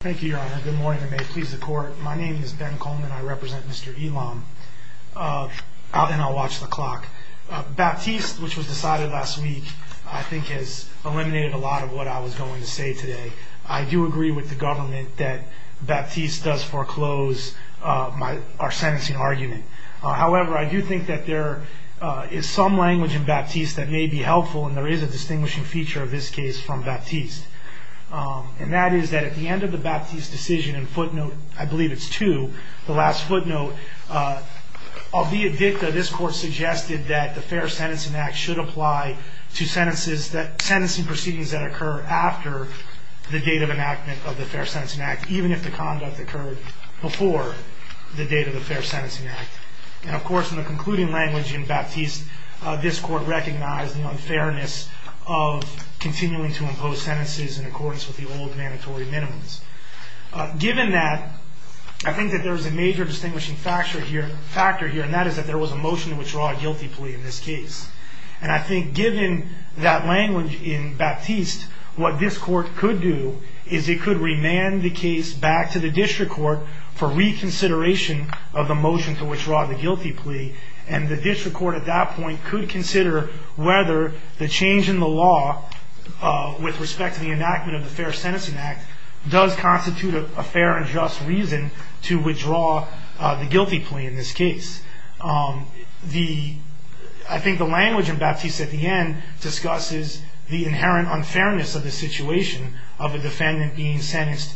Thank you, your honor. Good morning, and may it please the court. My name is Ben Coleman. I represent Mr. Elam, and I'll watch the clock. Baptiste, which was decided last week, I think has eliminated a lot of what I was going to say today. I do agree with the government that Baptiste does foreclose our sentencing argument. However, I do think that there is some language in Baptiste that may be helpful, and there is a distinguishing feature of this case from Baptiste. And that is that at the end of the Baptiste decision, in footnote, I believe it's two, the last footnote, albeit dicta, this court suggested that the Fair Sentencing Act should apply to sentencing proceedings that occur after the date of enactment of the Fair Sentencing Act, even if the conduct occurred before the date of the Fair Sentencing Act. And of course, in the concluding language in Baptiste, this court recognized the unfairness of continuing to impose sentences in accordance with the old mandatory minimums. Given that, I think that there is a major distinguishing factor here, and that is that there was a motion to withdraw a guilty plea in this case. And I think given that language in Baptiste, what this court could do is it could remand the case back to the district court for reconsideration of the motion to withdraw the guilty plea. And the district court at that point could consider whether the change in the law with respect to the enactment of the Fair Sentencing Act does constitute a fair and just reason to withdraw the guilty plea in this case. I think the language in Baptiste at the end discusses the inherent unfairness of the situation of a defendant being sentenced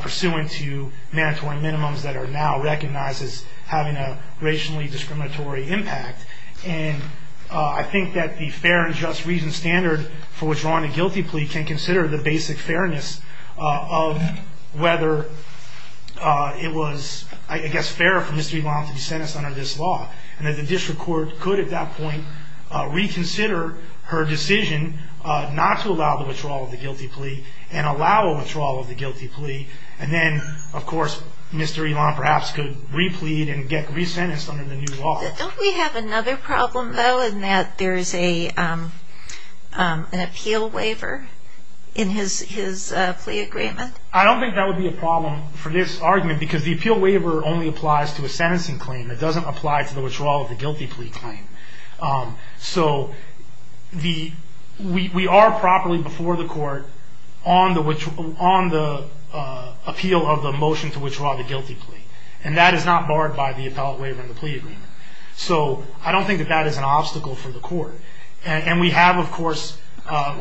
pursuant to mandatory minimums that are now recognized as having a racially discriminatory impact. And I think that the fair and just reason standard for withdrawing a guilty plea can consider the basic fairness of whether it was, I guess, fair for Mr. Elan to be sentenced under this law. And that the district court could at that point reconsider her decision not to allow the withdrawal of the guilty plea and allow a withdrawal of the guilty plea. And then, of course, Mr. Elan perhaps could re-plead and get re-sentenced under the new law. Don't we have another problem, though, in that there is an appeal waiver in his plea agreement? I don't think that would be a problem for this argument because the appeal waiver only applies to a sentencing claim. It doesn't apply to the withdrawal of the guilty plea claim. So we are properly before the court on the appeal of the motion to withdraw the guilty plea. And that is not barred by the appellate waiver in the plea agreement. So I don't think that that is an obstacle for the court. And we have, of course,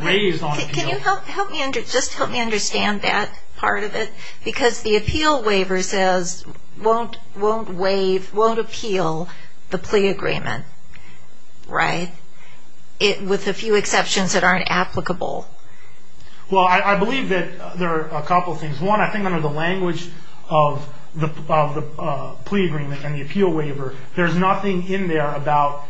raised on appeal. Can you just help me understand that part of it? Because the appeal waiver says won't appeal the plea agreement, right? With a few exceptions that aren't applicable. Well, I believe that there are a couple of things. One, I think under the language of the plea agreement and the appeal waiver, there is nothing in there about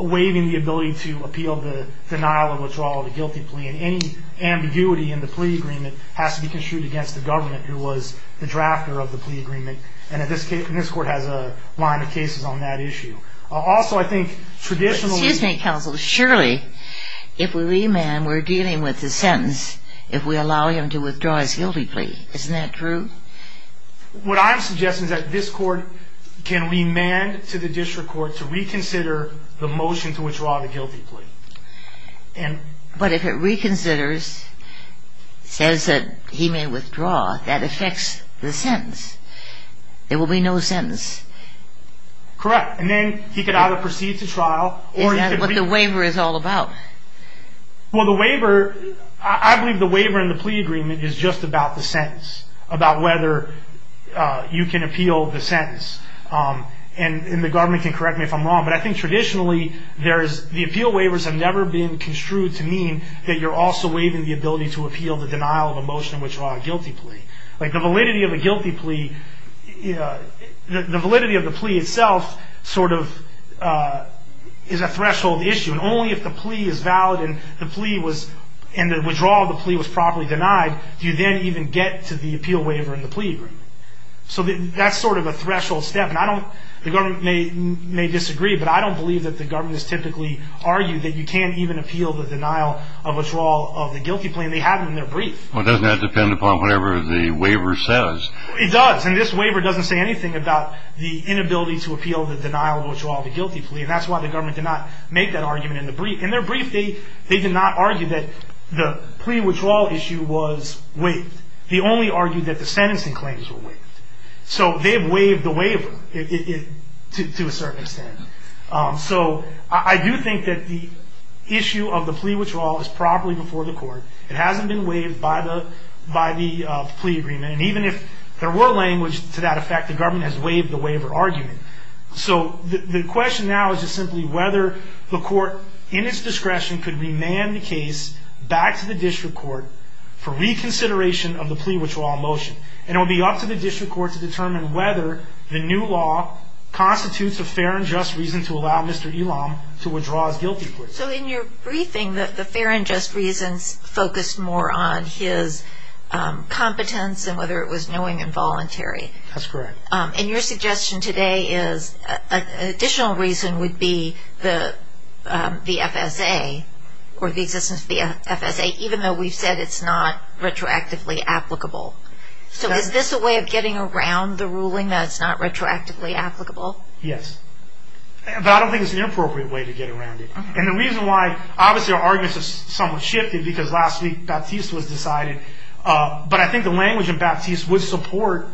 waiving the ability to appeal the denial of withdrawal of a guilty plea. And any ambiguity in the plea agreement has to be construed against the government, who was the drafter of the plea agreement. And this court has a line of cases on that issue. Also, I think traditionally ---- Excuse me, counsel. Surely if we remand, we're dealing with the sentence if we allow him to withdraw his guilty plea. Isn't that true? What I'm suggesting is that this court can remand to the district court to reconsider the motion to withdraw the guilty plea. But if it reconsiders, says that he may withdraw, that affects the sentence. There will be no sentence. Correct. And then he could either proceed to trial or he could ---- Is that what the waiver is all about? Well, the waiver, I believe the waiver in the plea agreement is just about the sentence, about whether you can appeal the sentence. And the government can correct me if I'm wrong, but I think traditionally the appeal waivers have never been construed to mean that you're also waiving the ability to appeal the denial of a motion to withdraw a guilty plea. Like the validity of a guilty plea, the validity of the plea itself sort of is a threshold issue. And only if the plea is valid and the withdrawal of the plea was properly denied do you then even get to the appeal waiver in the plea agreement. So that's sort of a threshold step. And I don't ---- the government may disagree, but I don't believe that the government has typically argued that you can't even appeal the denial of withdrawal of the guilty plea. And they have it in their brief. Well, doesn't that depend upon whatever the waiver says? It does. And this waiver doesn't say anything about the inability to appeal the denial of withdrawal of a guilty plea. And that's why the government did not make that argument in the brief. In their brief, they did not argue that the plea withdrawal issue was waived. They only argued that the sentencing claims were waived. So they have waived the waiver to a certain extent. So I do think that the issue of the plea withdrawal is properly before the court. It hasn't been waived by the plea agreement. And even if there were language to that effect, the government has waived the waiver argument. So the question now is just simply whether the court, in its discretion, could remand the case back to the district court for reconsideration of the plea withdrawal motion. And it would be up to the district court to determine whether the new law constitutes a fair and just reason to allow Mr. Elam to withdraw his guilty plea. So in your briefing, the fair and just reasons focused more on his competence than whether it was knowing and voluntary. That's correct. And your suggestion today is an additional reason would be the FSA, or the existence of the FSA, even though we've said it's not retroactively applicable. So is this a way of getting around the ruling that it's not retroactively applicable? Yes. But I don't think it's an appropriate way to get around it. And the reason why, obviously our arguments have somewhat shifted because last week Batiste was decided. But I think the language in Batiste would support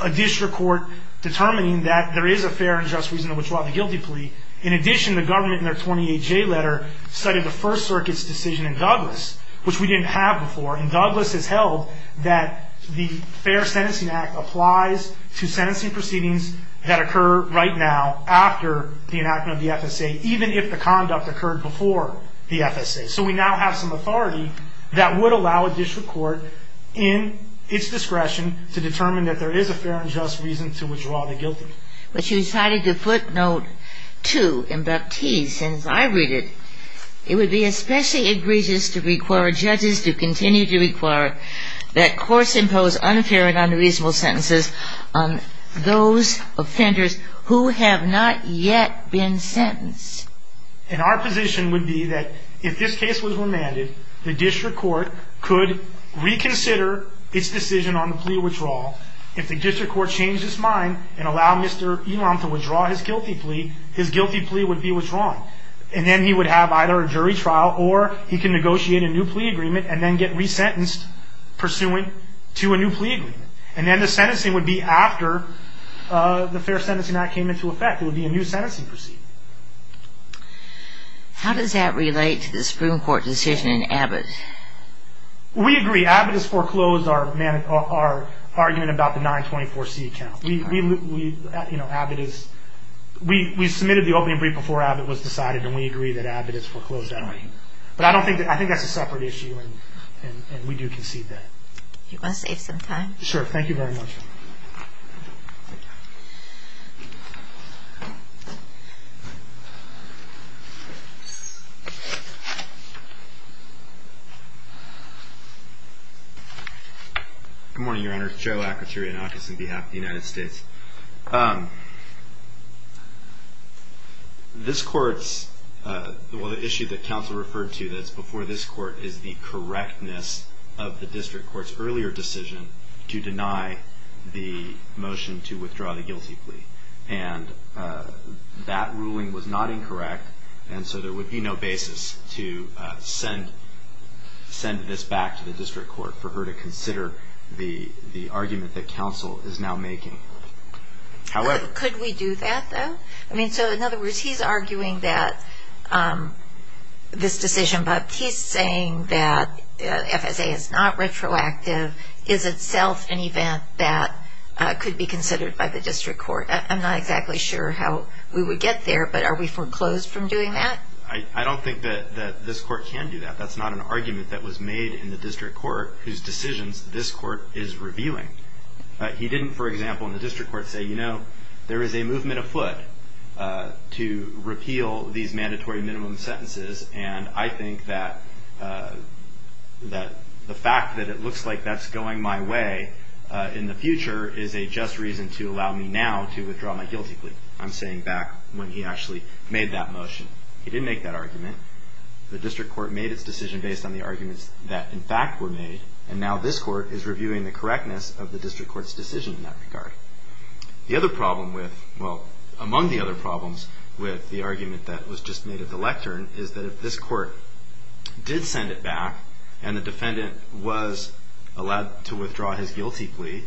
a district court determining that there is a fair and just reason to withdraw the guilty plea. In addition, the government in their 28-J letter cited the First Circuit's decision in Douglas, which we didn't have before. And Douglas has held that the Fair Sentencing Act applies to sentencing proceedings that occur right now after the enactment of the FSA, even if the conduct occurred before the FSA. So we now have some authority that would allow a district court in its discretion to determine that there is a fair and just reason to withdraw the guilty. But you cited the footnote 2 in Batiste, and as I read it, it would be especially egregious to require judges to continue to require that courts impose unfair and unreasonable sentences on those offenders who have not yet been sentenced. And our position would be that if this case was remanded, the district court could reconsider its decision on the plea withdrawal. If the district court changed its mind and allowed Mr. Elam to withdraw his guilty plea, his guilty plea would be withdrawn. And then he would have either a jury trial or he can negotiate a new plea agreement and then get resentenced pursuant to a new plea agreement. And then the sentencing would be after the Fair Sentencing Act came into effect. It would be a new sentencing proceeding. How does that relate to the Supreme Court decision in Abbott? We agree. Abbott has foreclosed our argument about the 924C count. We submitted the opening brief before Abbott was decided, and we agree that Abbott has foreclosed that argument. But I think that's a separate issue, and we do concede that. Do you want to save some time? Sure. Thank you very much. Good morning, Your Honor. Joe Akaterianakis on behalf of the United States. This court's issue that counsel referred to that's before this court is the correctness of the district court's earlier decision to deny the motion to withdraw the guilty plea. And that ruling was not incorrect, and so there would be no basis to send this back to the district court for her to consider the argument that counsel is now making. Could we do that, though? I mean, so in other words, he's arguing that this decision, but he's saying that FSA is not retroactive, is itself an event that could be considered by the district court. I'm not exactly sure how we would get there, but are we foreclosed from doing that? I don't think that this court can do that. That's not an argument that was made in the district court whose decisions this court is revealing. He didn't, for example, in the district court say, you know, there is a movement afoot to repeal these mandatory minimum sentences, and I think that the fact that it looks like that's going my way in the future is a just reason to allow me now to withdraw my guilty plea. I'm saying back when he actually made that motion. He didn't make that argument. The district court made its decision based on the arguments that, in fact, were made, and now this court is reviewing the correctness of the district court's decision in that regard. The other problem with, well, among the other problems with the argument that was just made at the lectern is that if this court did send it back and the defendant was allowed to withdraw his guilty plea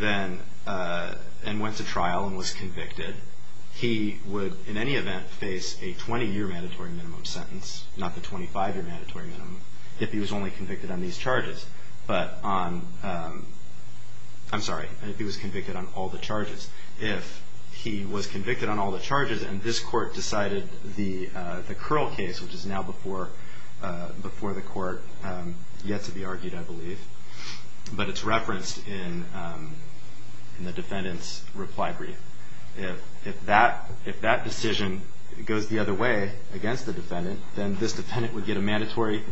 and went to trial and was convicted, he would in any event face a 20-year mandatory minimum sentence, not the 25-year mandatory minimum, if he was only convicted on these charges. But on, I'm sorry, if he was convicted on all the charges. If he was convicted on all the charges and this court decided the Curl case, which is now before the court yet to be argued, I believe, but it's referenced in the defendant's reply brief. If that decision goes the other way against the defendant, then this defendant would get a mandatory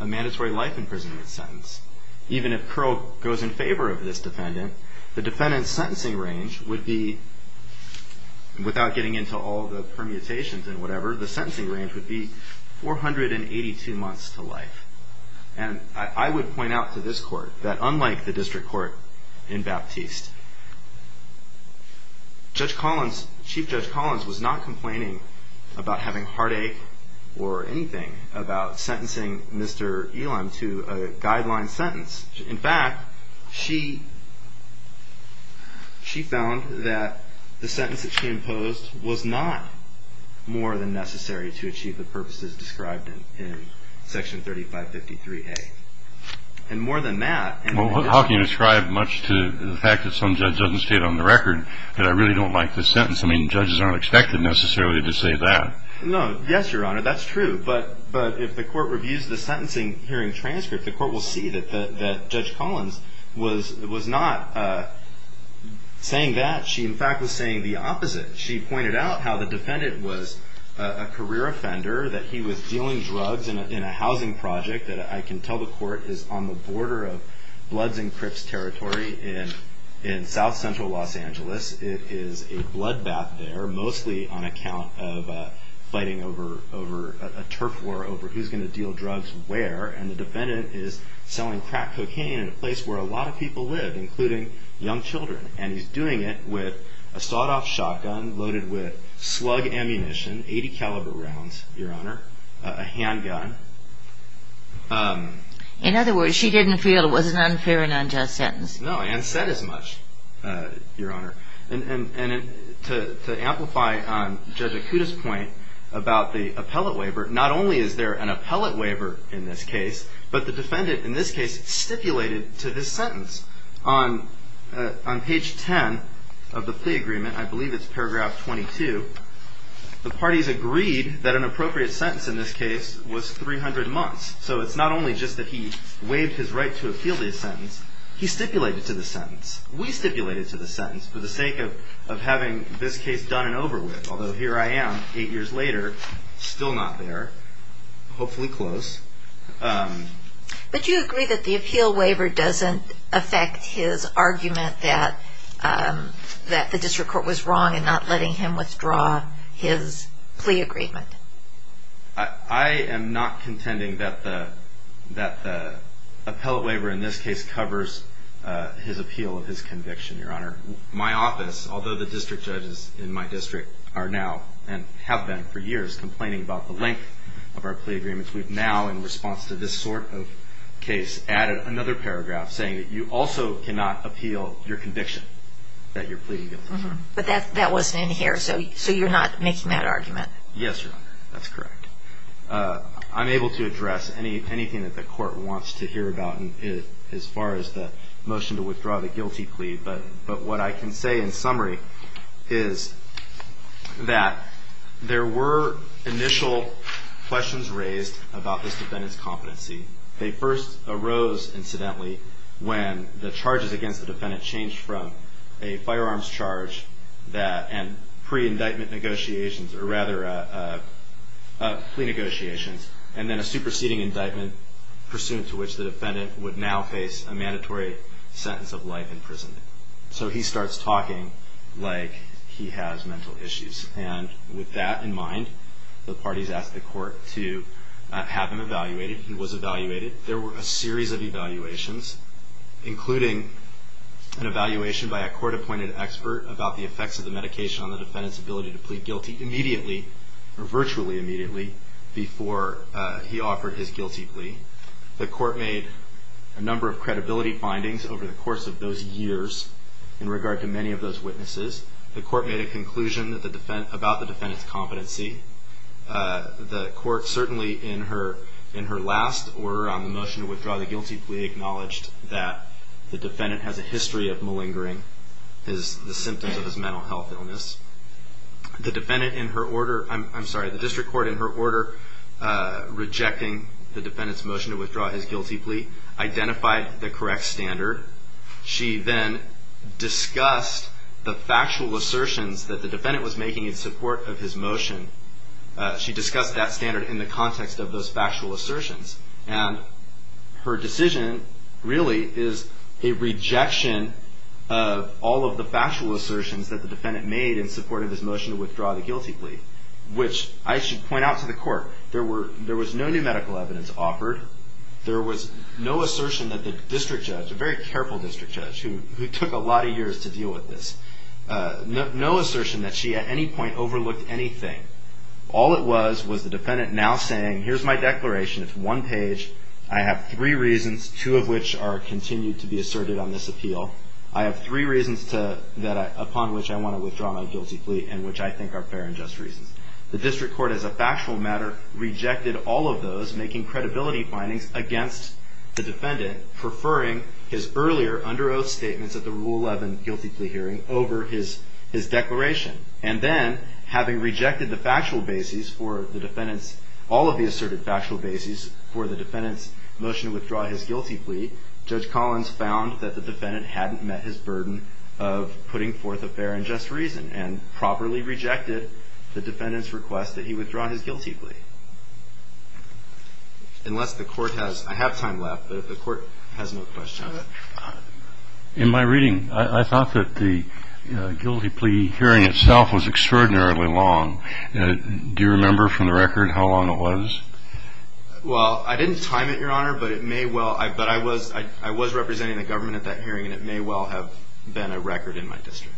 life imprisonment sentence. Even if Curl goes in favor of this defendant, the defendant's sentencing range would be, without getting into all the permutations and whatever, the sentencing range would be 482 months to life. And I would point out to this court that unlike the district court in Baptiste, Chief Judge Collins was not complaining about having a heartache or anything about sentencing Mr. Elam to a guideline sentence. In fact, she found that the sentence that she imposed was not more than necessary to achieve the purposes described in Section 3553A. And more than that... Well, how can you describe much to the fact that some judge doesn't state on the record that I really don't like this sentence? I mean, judges aren't expected necessarily to say that. No, yes, Your Honor, that's true. But if the court reviews the sentencing hearing transcript, the court will see that Judge Collins was not saying that. She, in fact, was saying the opposite. She pointed out how the defendant was a career offender, that he was dealing drugs in a housing project that I can tell the court is on the border of Bloods and Crips territory in South Central Los Angeles. It is a bloodbath there, mostly on account of fighting over a turf war over who's going to deal drugs where. And the defendant is selling crack cocaine in a place where a lot of people live, including young children. And he's doing it with a sawed-off shotgun loaded with slug ammunition, 80-caliber rounds, Your Honor, a handgun. In other words, she didn't feel it was an unfair and unjust sentence. No, and said as much, Your Honor. And to amplify on Judge Akuta's point about the appellate waiver, not only is there an appellate waiver in this case, but the defendant in this case stipulated to his sentence. On page 10 of the plea agreement, I believe it's paragraph 22, the parties agreed that an appropriate sentence in this case was 300 months. So it's not only just that he waived his right to appeal this sentence, he stipulated to the sentence. We stipulated to the sentence for the sake of having this case done and over with, although here I am eight years later, still not there, hopefully close. But you agree that the appeal waiver doesn't affect his argument that the district court was wrong and not letting him withdraw his plea agreement? I am not contending that the appellate waiver in this case My office, although the district judges in my district are now and have been for years complaining about the length of our plea agreements, we've now in response to this sort of case added another paragraph saying that you also cannot appeal your conviction that you're pleading guilty. But that wasn't in here, so you're not making that argument? Yes, Your Honor, that's correct. I'm able to address anything that the court wants to hear about as far as the motion to withdraw the guilty plea, but what I can say in summary is that there were initial questions raised about this defendant's competency. They first arose, incidentally, when the charges against the defendant changed from a firearms charge and pre-indictment negotiations, or rather plea negotiations, and then a superseding indictment, pursuant to which the defendant would now face a mandatory sentence of life in prison. So he starts talking like he has mental issues. And with that in mind, the parties asked the court to have him evaluated. He was evaluated. There were a series of evaluations, including an evaluation by a court-appointed expert about the effects of the medication on the defendant's ability to plead guilty immediately, or virtually immediately, before he offered his guilty plea. The court made a number of credibility findings over the course of those years in regard to many of those witnesses. The court made a conclusion about the defendant's competency. The court certainly, in her last order on the motion to withdraw the guilty plea, acknowledged that the defendant has a history of malingering, the symptoms of his mental health illness. The district court, in her order rejecting the defendant's motion to withdraw his guilty plea, identified the correct standard. She then discussed the factual assertions that the defendant was making in support of his motion. She discussed that standard in the context of those factual assertions. And her decision really is a rejection of all of the factual assertions that the defendant made in support of his motion to withdraw the guilty plea, which I should point out to the court, there was no new medical evidence offered. There was no assertion that the district judge, a very careful district judge, who took a lot of years to deal with this, no assertion that she at any point overlooked anything. All it was was the defendant now saying, here's my declaration. It's one page. I have three reasons, two of which are continued to be asserted on this appeal. I have three reasons upon which I want to withdraw my guilty plea, and which I think are fair and just reasons. The district court, as a factual matter, rejected all of those, making credibility findings against the defendant, preferring his earlier under oath statements at the Rule 11 guilty plea hearing over his declaration. And then, having rejected the factual bases for the defendant's, all of the asserted factual bases for the defendant's motion to withdraw his guilty plea, Judge Collins found that the defendant hadn't met his burden of putting forth a fair and just reason and properly rejected the defendant's request that he withdraw his guilty plea. Unless the court has, I have time left, but if the court has no questions. In my reading, I thought that the guilty plea hearing itself was extraordinarily long. Do you remember from the record how long it was? Well, I didn't time it, Your Honor, but it may well, but I was representing the government at that hearing, and it may well have been a record in my district.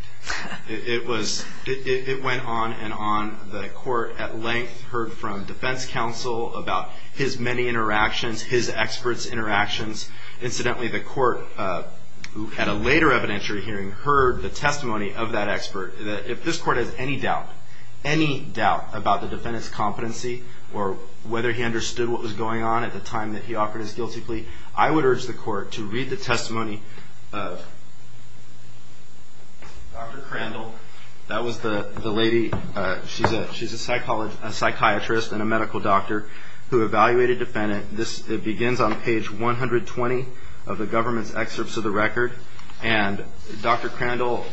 It was, it went on and on. The court, at length, heard from defense counsel about his many interactions, his expert's interactions. Incidentally, the court, who had a later evidentiary hearing, heard the testimony of that expert. If this court has any doubt, any doubt about the defendant's competency or whether he understood what was going on at the time that he offered his guilty plea, I would urge the court to read the testimony of Dr. Crandall. That was the lady, she's a psychiatrist and a medical doctor who evaluated the defendant. It begins on page 120 of the government's excerpts of the record. And Dr. Crandall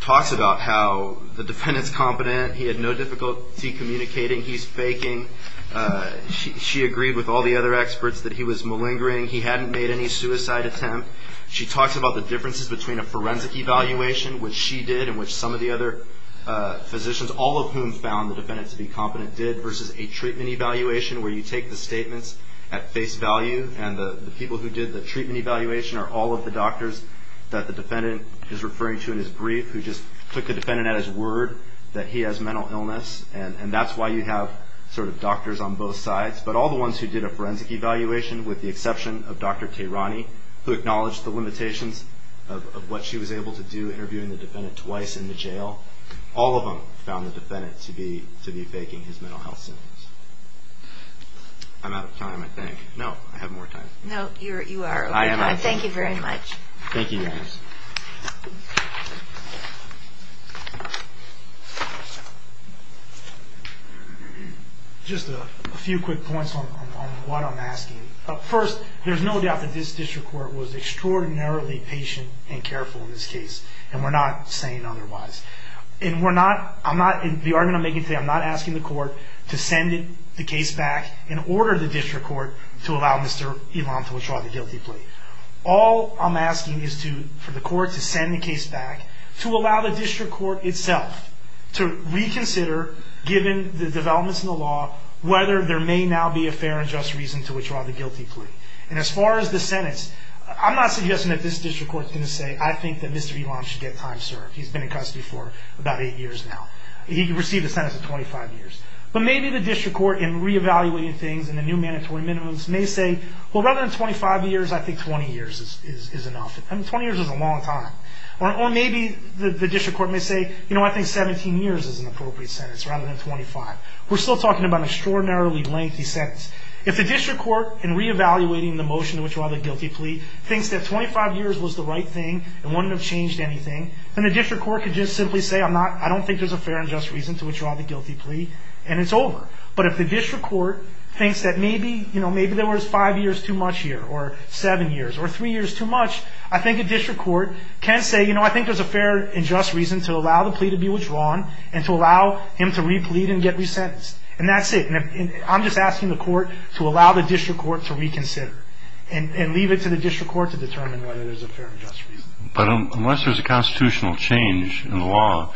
talks about how the defendant's competent, he had no difficulty communicating, he's faking. She agreed with all the other experts that he was malingering, he hadn't made any suicide attempt. She talks about the differences between a forensic evaluation, which she did, and which some of the other physicians, all of whom found the defendant to be competent, did, versus a treatment evaluation where you take the statements at face value, and the people who did the treatment evaluation are all of the doctors that the defendant is referring to in his brief who just took the defendant at his word that he has mental illness, and that's why you have sort of doctors on both sides. But all the ones who did a forensic evaluation, with the exception of Dr. Tehrani, who acknowledged the limitations of what she was able to do interviewing the defendant twice in the jail, all of them found the defendant to be faking his mental health symptoms. I'm out of time, I think. No, I have more time. No, you are okay. I am out of time. Thank you very much. Thank you guys. Just a few quick points on what I'm asking. First, there's no doubt that this district court was extraordinarily patient and careful in this case, and we're not saying otherwise. In the argument I'm making today, I'm not asking the court to send the case back and order the district court to allow Mr. Elam to withdraw the guilty plea. All I'm asking is for the court to send the case back, to allow the district court itself to reconsider, given the developments in the law, whether there may now be a fair and just reason to withdraw the guilty plea. And as far as the sentence, I'm not suggesting that this district court is going to say, I think that Mr. Elam should get time served. He's been in custody for about eight years now. He received a sentence of 25 years. But maybe the district court, in reevaluating things in the new mandatory minimums, may say, well, rather than 25 years, I think 20 years is enough. I mean, 20 years is a long time. Or maybe the district court may say, you know what, I think 17 years is an appropriate sentence rather than 25. We're still talking about an extraordinarily lengthy sentence. If the district court, in reevaluating the motion to withdraw the guilty plea, thinks that 25 years was the right thing and wouldn't have changed anything, then the district court could just simply say, I don't think there's a fair and just reason to withdraw the guilty plea, and it's over. But if the district court thinks that maybe there was five years too much here, or seven years, or three years too much, I think a district court can say, you know, I think there's a fair and just reason to allow the plea to be withdrawn and to allow him to replead and get resentenced. And that's it. And I'm just asking the court to allow the district court to reconsider and leave it to the district court to determine whether there's a fair and just reason. But unless there's a constitutional change in the law,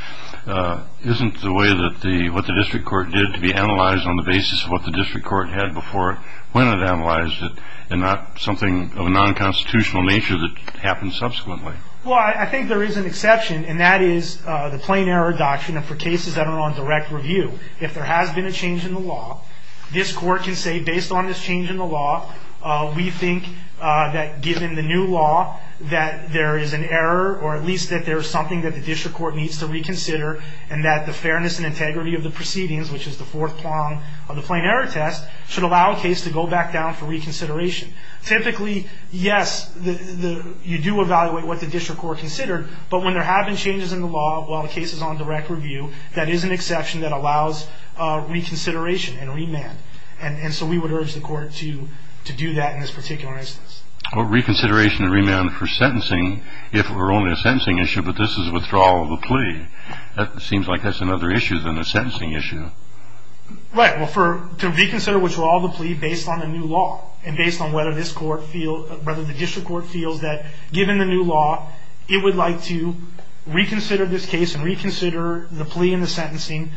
isn't the way that what the district court did to be analyzed on the basis of what the district court had before, when it analyzed it, and not something of a non-constitutional nature that happens subsequently? Well, I think there is an exception, and that is the plain error doctrine. And for cases that are on direct review, if there has been a change in the law, this court can say, based on this change in the law, we think that given the new law that there is an error, or at least that there is something that the district court needs to reconsider, and that the fairness and integrity of the proceedings, which is the fourth prong of the plain error test, should allow a case to go back down for reconsideration. Typically, yes, you do evaluate what the district court considered, but when there have been changes in the law while the case is on direct review, that is an exception that allows reconsideration and remand. And so we would urge the court to do that in this particular instance. Well, reconsideration and remand for sentencing, if it were only a sentencing issue, but this is withdrawal of the plea. That seems like that's another issue than a sentencing issue. Right. Well, to reconsider withdrawal of the plea based on the new law and based on whether the district court feels that, given the new law, it would like to reconsider this case and reconsider the plea and the sentencing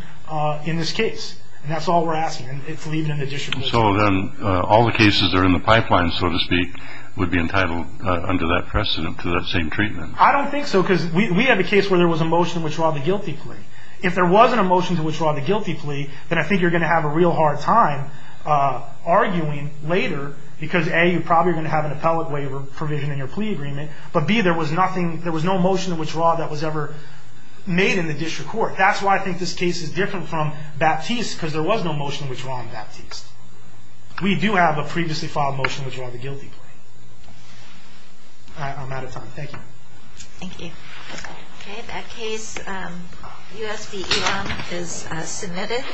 in this case. And that's all we're asking, and it's leaving it to the district court. So then all the cases that are in the pipeline, so to speak, would be entitled under that precedent to that same treatment. I don't think so, because we had a case where there was a motion to withdraw the guilty plea. If there wasn't a motion to withdraw the guilty plea, then I think you're going to have a real hard time arguing later, because, A, you're probably going to have an appellate waiver provision in your plea agreement, but, B, there was no motion to withdraw that was ever made in the district court. That's why I think this case is different from Baptiste, because there was no motion to withdraw on Baptiste. We do have a previously filed motion to withdraw the guilty plea. I'm out of time. Thank you. Thank you. Okay, that case, U.S. v. Elon, is submitted.